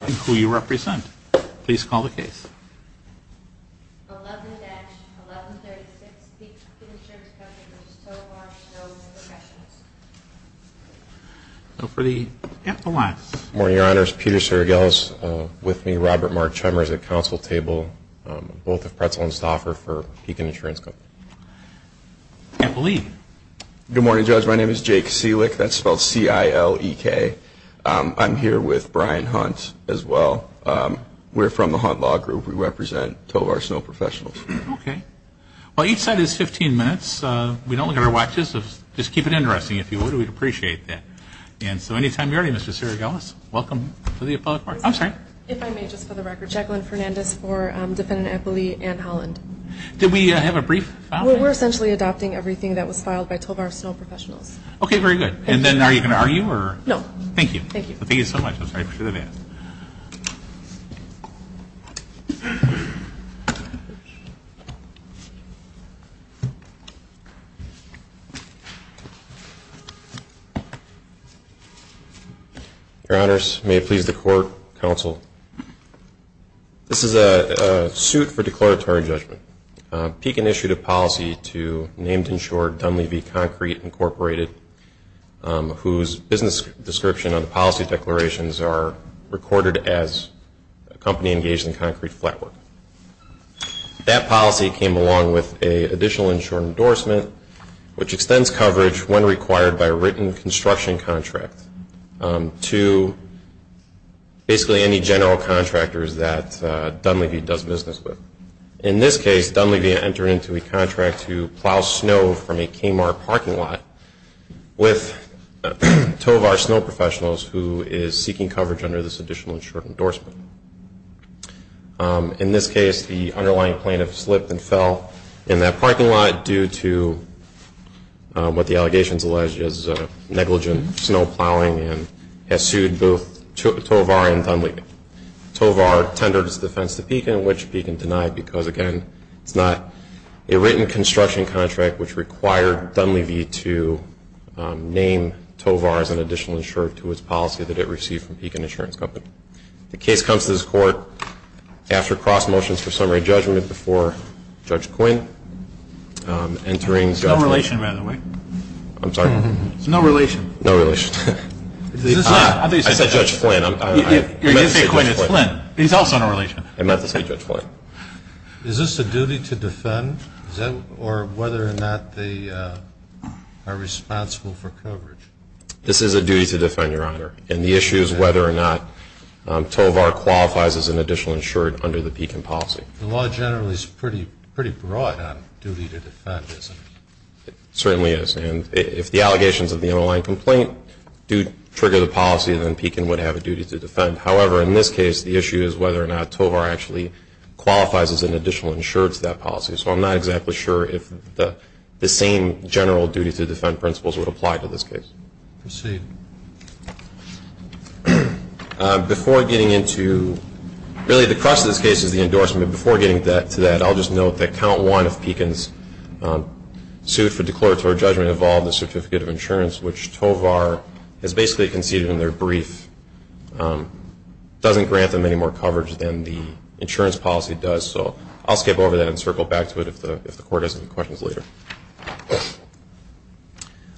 And who you represent. Please call the case. 11-1136 Pekin Insurance Company. Tovar Snow Professionals. So for the epiline. Good morning, Your Honors. Peter Sergelis with me. Robert Mark Chummers at counsel table. Both have pretzels to offer for Pekin Insurance Company. Epiline. Good morning, Judge. My name is Jake Selick. That's spelled C-I-L-E-K. I'm here with Brian Hunt as well. We're from the Hunt Law Group. We represent Tovar Snow Professionals. Okay. Well, each side is 15 minutes. We don't look at our watches. Just keep it interesting. If you would, we'd appreciate that. And so anytime you're ready, Mr. Sergelis, welcome to the Appellate Court. I'm sorry. If I may, just for the record, Jacqueline Fernandez for Defendant Epiline Anne Holland. Did we have a brief file? We're essentially adopting everything that was filed by Tovar Snow Professionals. Okay, very good. And then are you going to argue? No. Thank you. Thank you. Thank you so much. I appreciate that. Your Honors, may it please the Court, Counsel, this is a suit for declaratory judgment. Pekin issued a policy to named insured Dunleavy Concrete Incorporated, whose business description on the policy declarations are recorded as a company engaged in concrete flat work. That policy came along with an additional insured endorsement, which extends coverage when required by a written construction contract to basically any general contractors that Dunleavy does business with. In this case, Dunleavy entered into a contract to plow snow from a Kmart parking lot with Tovar Snow Professionals, who is seeking coverage under this additional insured endorsement. In this case, the underlying plaintiff slipped and fell in that parking lot due to what the allegations allege is negligent snow plowing and has sued both Tovar and Dunleavy. It's not a written construction contract, which required Dunleavy to name Tovar as an additional insured to his policy that it received from Pekin Insurance Company. The case comes to this Court after cross motions for summary judgment before Judge Quinn. No relation, by the way. I'm sorry? No relation. No relation. I said Judge Flynn. You didn't say Quinn, it's Flynn. He's also in a relation. I meant to say Judge Flynn. Is this a duty to defend or whether or not they are responsible for coverage? This is a duty to defend, Your Honor. And the issue is whether or not Tovar qualifies as an additional insured under the Pekin policy. The law generally is pretty broad on duty to defend, isn't it? It certainly is. And if the allegations of the underlying complaint do trigger the policy, then Pekin would have a duty to defend. However, in this case, the issue is whether or not Tovar actually qualifies as an additional insured to that policy. So I'm not exactly sure if the same general duty to defend principles would apply to this case. Proceed. Before getting into really the crux of this case is the endorsement. Before getting to that, I'll just note that count one of Pekin's suit for declaratory judgment involving the certificate of insurance, which Tovar has basically conceded in their brief, doesn't grant them any more coverage than the insurance policy does. So I'll skip over that and circle back to it if the Court has any questions later.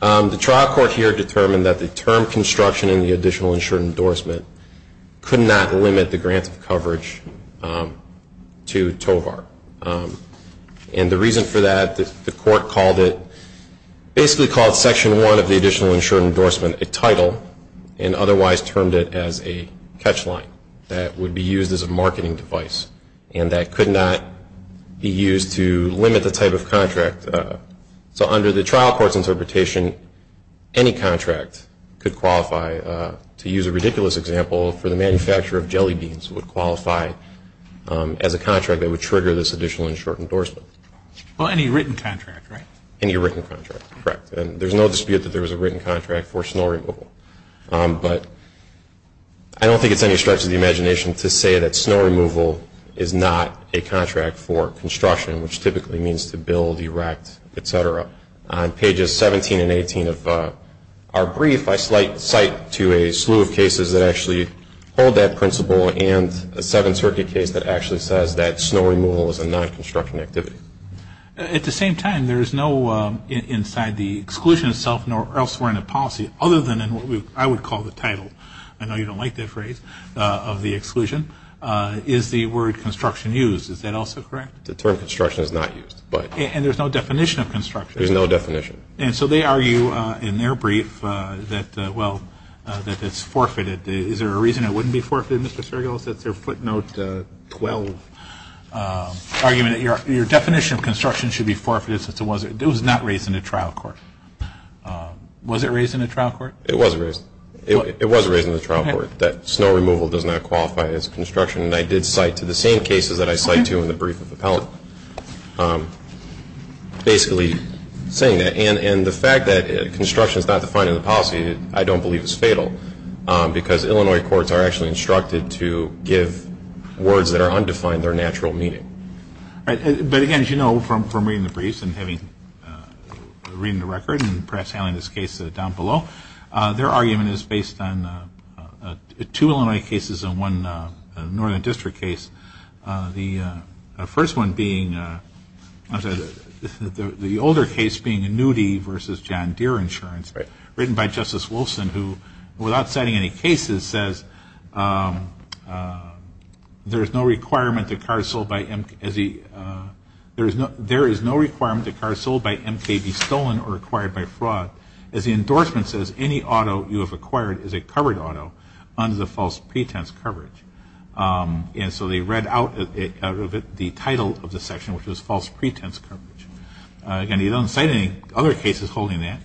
The trial court here determined that the term construction in the additional insured endorsement could not limit the grant of coverage to Tovar. And the reason for that, the Court called it, basically called Section 1 of the additional insured endorsement a title and otherwise termed it as a catch line that would be used as a marketing device and that could not be used to limit the type of contract. So under the trial court's interpretation, any contract could qualify. To use a ridiculous example, for the manufacture of jelly beans would qualify as a contract that would trigger this additional insured endorsement. Well, any written contract, right? Any written contract, correct. And there's no dispute that there was a written contract for snow removal. But I don't think it's any stretch of the imagination to say that snow removal is not a contract for construction, which typically means to build, erect, et cetera. On pages 17 and 18 of our brief, I cite to a slew of cases that actually hold that principle and a Seventh Circuit case that actually says that snow removal is a non-construction activity. At the same time, there is no inside the exclusion itself nor elsewhere in the policy other than in what I would call the title. I know you don't like that phrase of the exclusion. Is the word construction used? Is that also correct? The term construction is not used. And there's no definition of construction? There's no definition. And so they argue in their brief that, well, that it's forfeited. Is there a reason it wouldn't be forfeited, Mr. Sergeles? That's their footnote 12 argument that your definition of construction should be forfeited since it was not raised in the trial court. Was it raised in the trial court? It was raised. It was raised in the trial court that snow removal does not qualify as construction. And I did cite to the same cases that I cite to in the brief of appellate basically saying that. And the fact that construction is not defined in the policy I don't believe is fatal because Illinois courts are actually instructed to give words that are undefined their natural meaning. But, again, as you know from reading the briefs and having read the record and perhaps handling this case down below, their argument is based on two Illinois cases and one Northern District case, the first one being the older case being Newdy v. John Deere Insurance written by Justice Wilson who, without citing any cases, says there is no requirement that cars sold by MK be stolen or acquired by fraud as the endorsement says any auto you have acquired is a covered auto under the false pretense coverage. And so they read out of it the title of the section, which was false pretense coverage. Again, he doesn't cite any other cases holding that.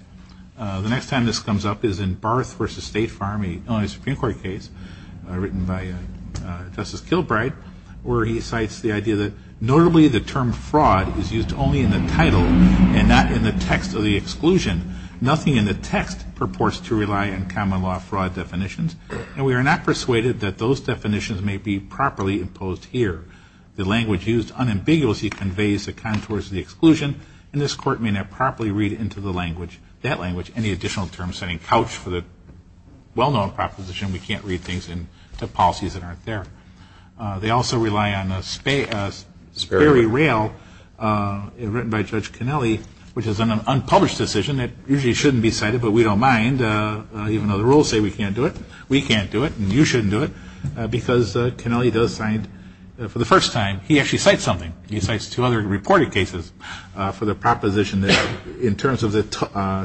The next time this comes up is in Barth v. State Farm, an Illinois Supreme Court case, written by Justice Kilbride where he cites the idea that notably the term fraud is used only in the title and not in the text of the exclusion. Nothing in the text purports to rely on common law fraud definitions, and we are not persuaded that those definitions may be properly imposed here. The language used unambiguously conveys the contours of the exclusion, and this Court may not properly read into the language, that language, any additional terms setting couch for the well-known proposition we can't read things into policies that aren't there. They also rely on a Sperry Rail written by Judge Kennelly, which is an unpublished decision that usually shouldn't be cited, but we don't mind, even though the rules say we can't do it. We can't do it, and you shouldn't do it, because Kennelly does cite, for the first time, he actually cites something. He cites two other reported cases for the proposition that in terms of the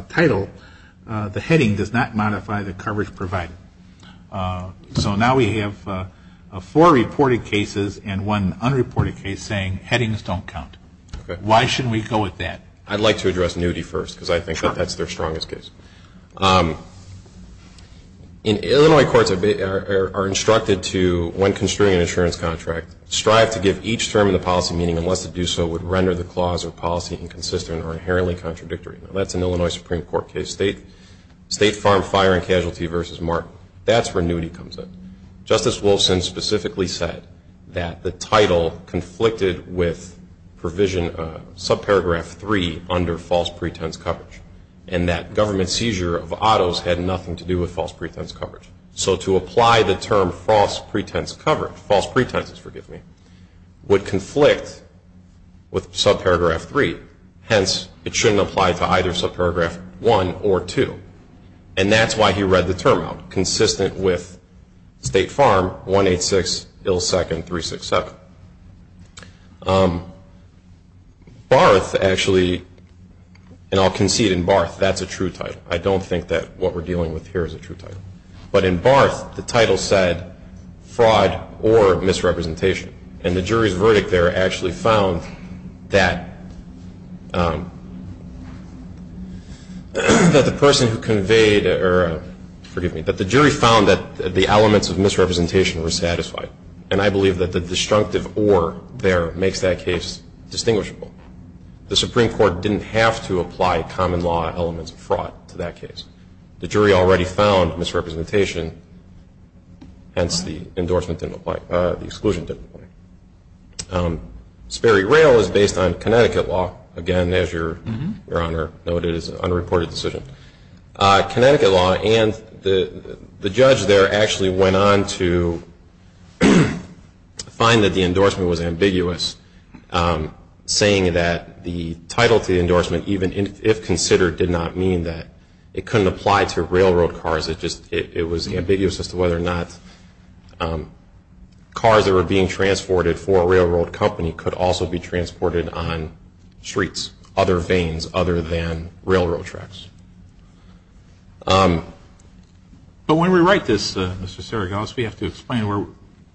title, the heading does not modify the coverage provided. So now we have four reported cases and one unreported case saying headings don't count. Why shouldn't we go with that? I'd like to address nudity first, because I think that that's their strongest case. Illinois courts are instructed to, when construing an insurance contract, strive to give each term in the policy meaning unless it do so would render the clause or policy inconsistent or inherently contradictory. That's an Illinois Supreme Court case, State Farm Fire and Casualty v. Mark. That's where nudity comes in. Justice Wilson specifically said that the title conflicted with provision, subparagraph 3, under false pretense coverage, and that government seizure of autos had nothing to do with false pretense coverage. So to apply the term false pretense coverage, false pretenses, forgive me, would conflict with subparagraph 3. Hence, it shouldn't apply to either subparagraph 1 or 2. And that's why he read the term out, consistent with State Farm 186-ill-second-367. Barth actually, and I'll concede in Barth, that's a true title. I don't think that what we're dealing with here is a true title. But in Barth, the title said fraud or misrepresentation. And the jury's verdict there actually found that the person who conveyed or, forgive me, that the jury found that the elements of misrepresentation were satisfied. And I believe that the destructive or there makes that case distinguishable. The Supreme Court didn't have to apply common law elements of fraud to that case. The jury already found misrepresentation. Hence, the endorsement didn't apply. The exclusion didn't apply. Sperry Rail is based on Connecticut law. Again, as Your Honor noted, it is an unreported decision. Connecticut law and the judge there actually went on to find that the endorsement was ambiguous, saying that the title to the endorsement, even if considered, did not mean that it couldn't apply to railroad cars. It was ambiguous as to whether or not cars that were being transported for a railroad company could also be transported on streets, other vanes, other than railroad tracks. But when we write this, Mr. Seragos, we have to explain where,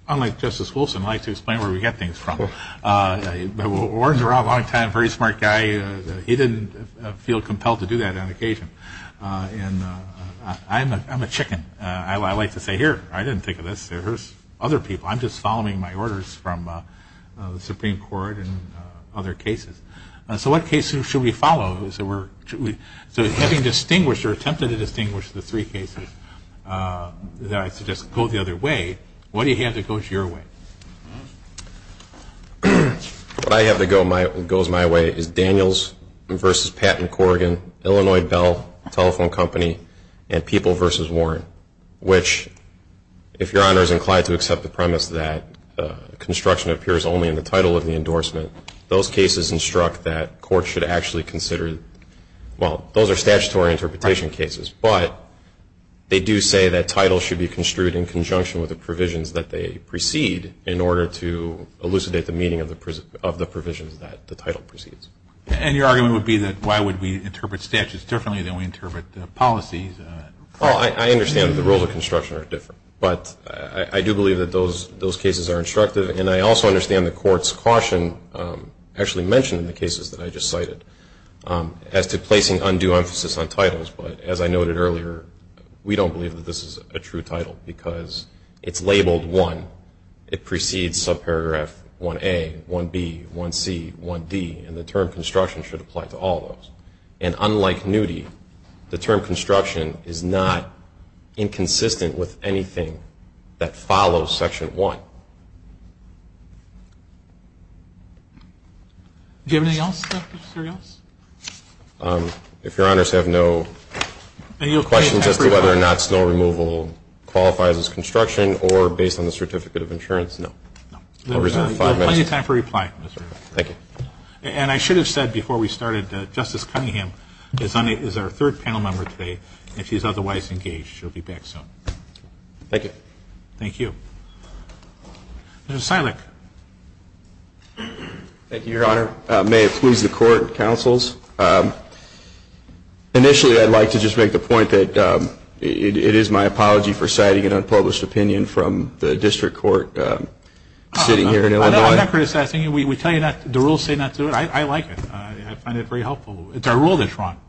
unlike Justice Wilson, I like to explain where we get things from. Warren Durant, a long time, very smart guy, he didn't feel compelled to do that on occasion. And I'm a chicken. I like to say, here, I didn't think of this. Here's other people. I'm just following my orders from the Supreme Court and other cases. So what cases should we follow? So having distinguished or attempted to distinguish the three cases, I suggest go the other way. What do you have that goes your way? What I have that goes my way is Daniels v. Patton Corrigan, Illinois Bell Telephone Company, and People v. Warren, which if Your Honor is inclined to accept the premise that construction appears only in the title of the endorsement, those cases instruct that courts should actually consider, well, those are statutory interpretation cases. But they do say that titles should be construed in conjunction with the provisions that they precede in order to elucidate the meaning of the provisions that the title precedes. And your argument would be that why would we interpret statutes differently than we interpret policies? Well, I understand that the rules of construction are different. But I do believe that those cases are instructive, and I also understand the court's caution actually mentioned in the cases that I just cited as to placing undue emphasis on titles. But as I noted earlier, we don't believe that this is a true title because it's labeled 1. It precedes subparagraph 1A, 1B, 1C, 1D, and the term construction should apply to all of those. And unlike nudity, the term construction is not inconsistent with anything that follows Section 1. Do you have anything else, Dr. Serios? If Your Honors have no questions as to whether or not snow removal qualifies as construction or based on the certificate of insurance, no. You have plenty of time for reply. Thank you. And I should have said before we started that Justice Cunningham is our third panel member today. If he's otherwise engaged, he'll be back soon. Thank you. Thank you. Mr. Silek. Thank you, Your Honor. May it please the court, counsels. Initially, I'd like to just make the point that it is my apology for citing an unpublished opinion from the district court sitting here in Illinois. I'm not criticizing you. We tell you not to. The rules say not to. I like it. I find it very helpful. It's our rule that's wrong.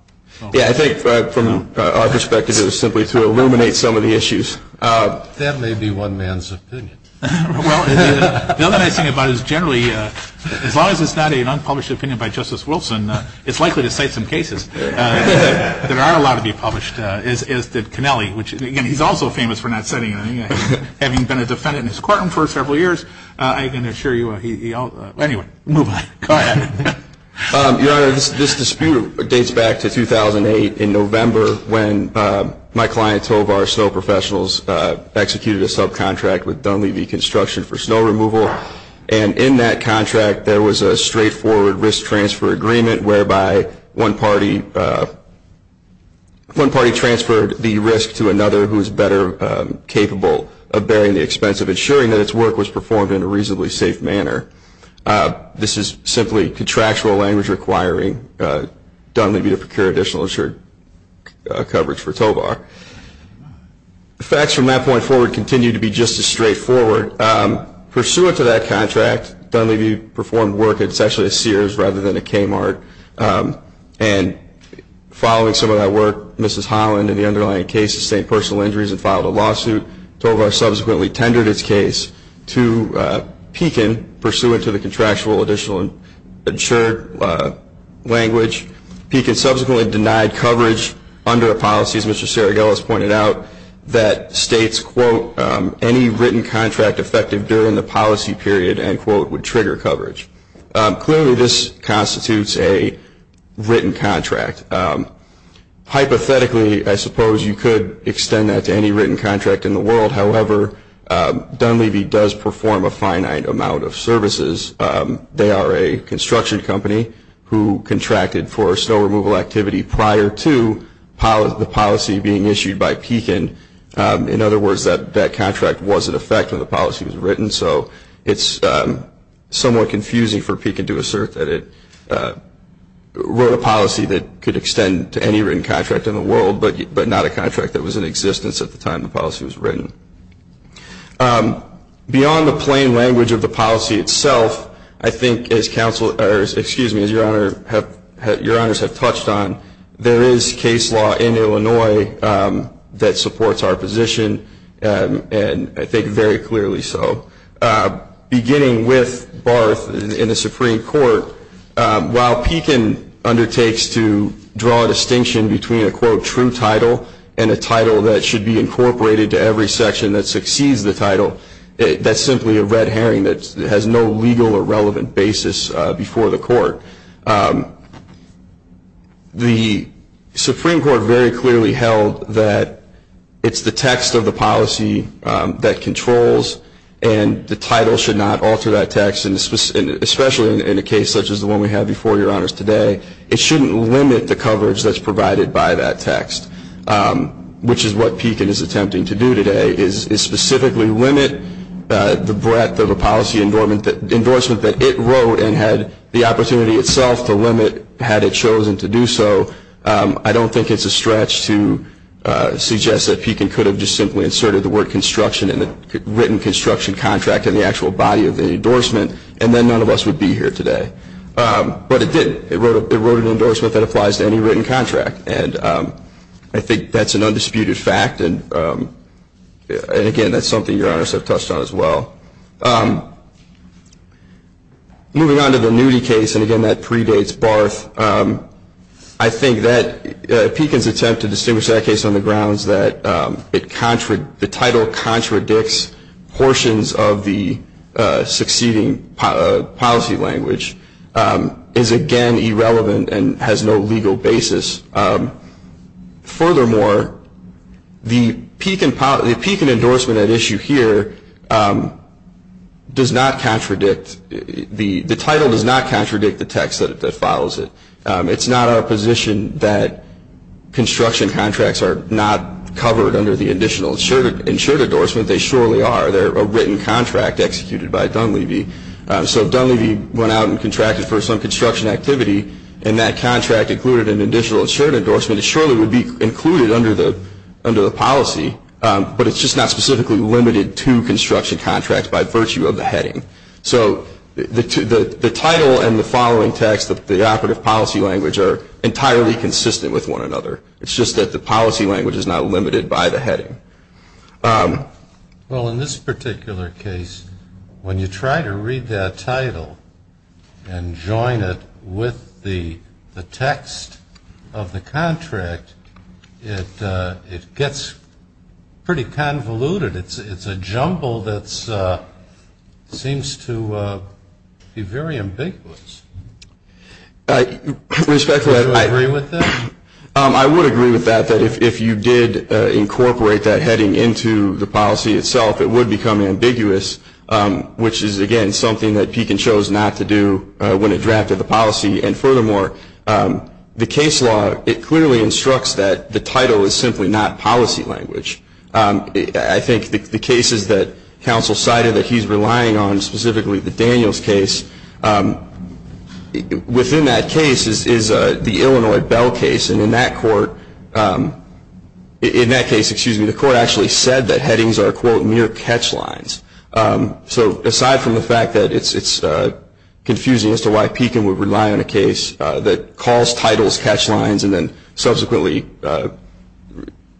Yeah, I think from our perspective, it was simply to illuminate some of the issues. That may be one man's opinion. Well, the other thing about it is generally, as long as it's not an unpublished opinion by Justice Wilson, it's likely to cite some cases that are allowed to be published, as did Connelly, which, again, he's also famous for not citing it. Having been a defendant in his courtroom for several years, I can assure you he also – anyway, move on. Go ahead. Your Honor, this dispute dates back to 2008 in November when my client Tovar Snow Professionals executed a subcontract with Dunleavy Construction for snow removal, and in that contract there was a straightforward risk transfer agreement whereby one party transferred the risk to another who was better capable of bearing the expense of ensuring that its work was performed in a reasonably safe manner. This is simply contractual language requiring Dunleavy to procure additional insured coverage for Tovar. The facts from that point forward continue to be just as straightforward. Pursuant to that contract, Dunleavy performed work that's actually a Sears rather than a Kmart, and following some of that work, Mrs. Holland, in the underlying case, sustained personal injuries and filed a lawsuit. Tovar subsequently tendered its case to Pekin, pursuant to the contractual additional insured language. Pekin subsequently denied coverage under a policy, as Mr. Saragelis pointed out, that states, quote, any written contract effective during the policy period, end quote, would trigger coverage. Clearly, this constitutes a written contract. Hypothetically, I suppose you could extend that to any written contract in the world. However, Dunleavy does perform a finite amount of services. They are a construction company who contracted for snow removal activity prior to the policy being issued by Pekin. In other words, that contract was in effect when the policy was written, so it's somewhat confusing for Pekin to assert that it wrote a policy that could extend to any written contract in the world, but not a contract that was in existence at the time the policy was written. Beyond the plain language of the policy itself, I think, as your honors have touched on, there is case law in Illinois that supports our position, and I think very clearly so. Beginning with Barth in the Supreme Court, while Pekin undertakes to draw a distinction between a, quote, that succeeds the title, that's simply a red herring that has no legal or relevant basis before the court. The Supreme Court very clearly held that it's the text of the policy that controls, and the title should not alter that text, especially in a case such as the one we had before your honors today. It shouldn't limit the coverage that's provided by that text, which is what Pekin is attempting to do today, is specifically limit the breadth of a policy endorsement that it wrote and had the opportunity itself to limit had it chosen to do so. I don't think it's a stretch to suggest that Pekin could have just simply inserted the word construction in the written construction contract in the actual body of the endorsement, and then none of us would be here today. But it did. It wrote an endorsement that applies to any written contract, and I think that's an undisputed fact, and again, that's something your honors have touched on as well. Moving on to the Newdy case, and again, that predates Barth, I think that Pekin's attempt to distinguish that case on the grounds that the title contradicts portions of the succeeding policy language is, again, irrelevant and has no legal basis. Furthermore, the Pekin endorsement at issue here does not contradict the title, does not contradict the text that follows it. It's not our position that construction contracts are not covered under the additional insured endorsement. They surely are. They're a written contract executed by Dunleavy. So Dunleavy went out and contracted for some construction activity, and that contract included an additional insured endorsement. It surely would be included under the policy, but it's just not specifically limited to construction contracts by virtue of the heading. So the title and the following text, the operative policy language, are entirely consistent with one another. It's just that the policy language is not limited by the heading. Well, in this particular case, when you try to read that title and join it with the text of the contract, it gets pretty convoluted. It's a jumble that seems to be very ambiguous. Do you agree with that? I would agree with that, that if you did incorporate that heading into the policy itself, it would become ambiguous, which is, again, something that Pekin chose not to do when it drafted the policy. And furthermore, the case law, it clearly instructs that the title is simply not policy language. I think the cases that counsel cited that he's relying on, specifically the Daniels case, within that case is the Illinois Bell case. And in that case, the court actually said that headings are, quote, mere catch lines. So aside from the fact that it's confusing as to why Pekin would rely on a case that calls titles catch lines and then subsequently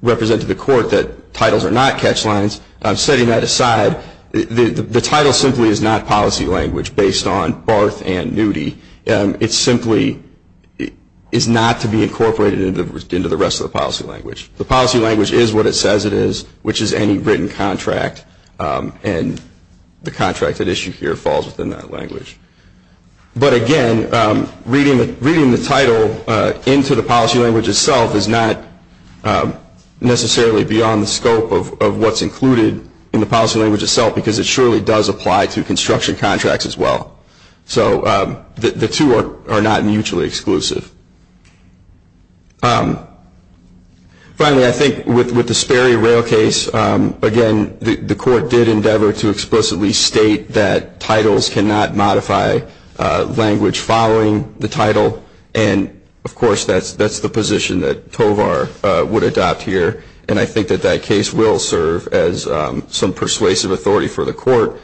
represent to the court that titles are not catch lines, setting that aside, the title simply is not policy language based on Barth and Newdy. It simply is not to be incorporated into the rest of the policy language. The policy language is what it says it is, which is any written contract, and the contract at issue here falls within that language. But again, reading the title into the policy language itself is not necessarily beyond the scope of what's included in the policy language itself because it surely does apply to construction contracts as well. So the two are not mutually exclusive. Finally, I think with the Sperry Rail case, again, the court did endeavor to explicitly state that titles cannot modify language following the title, and, of course, that's the position that Tovar would adopt here. And I think that that case will serve as some persuasive authority for the court.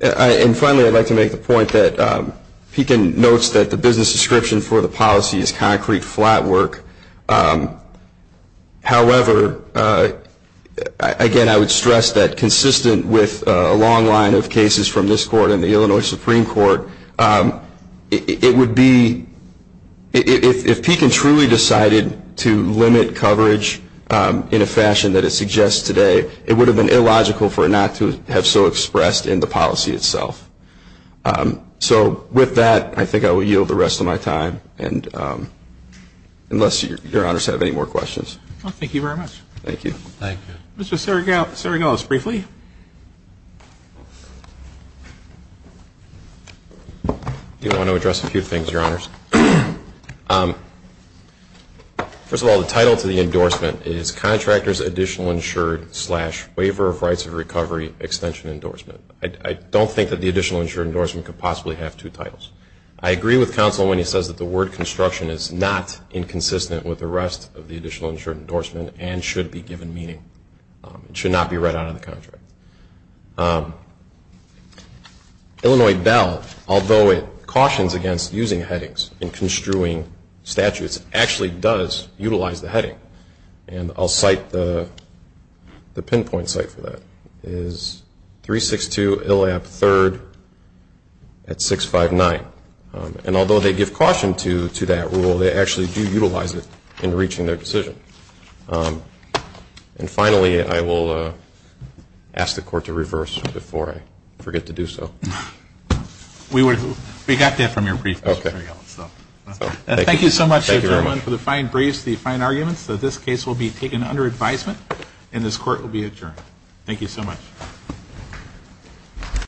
And finally, I'd like to make the point that Pekin notes that the business description for the policy is concrete flat work. However, again, I would stress that consistent with a long line of cases from this court and the Illinois Supreme Court, it would be, if Pekin truly decided to limit coverage in a fashion that it suggests today, it would have been illogical for it not to have so expressed in the policy itself. So with that, I think I will yield the rest of my time, unless Your Honors have any more questions. Thank you very much. Thank you. Mr. Saragos, briefly? Do you want to address a few things, Your Honors? First of all, the title to the endorsement is Contractor's Additional Insured Slash Waiver of Rights of Recovery Extension Endorsement. I don't think that the additional insured endorsement could possibly have two titles. I agree with counsel when he says that the word construction is not inconsistent with the rest of the additional insured endorsement and should be given meaning. It should not be read out of the contract. Illinois Bell, although it cautions against using headings in construing statutes, actually does utilize the heading. And I'll cite the pinpoint site for that. It's 362 Illap 3rd at 659. And although they give caution to that rule, they actually do utilize it in reaching their decision. And finally, I will ask the Court to reverse before I forget to do so. We got that from your brief, Mr. Saragos. Thank you so much, everyone, for the fine briefs, the fine arguments. This case will be taken under advisement, and this Court will be adjourned. Thank you so much.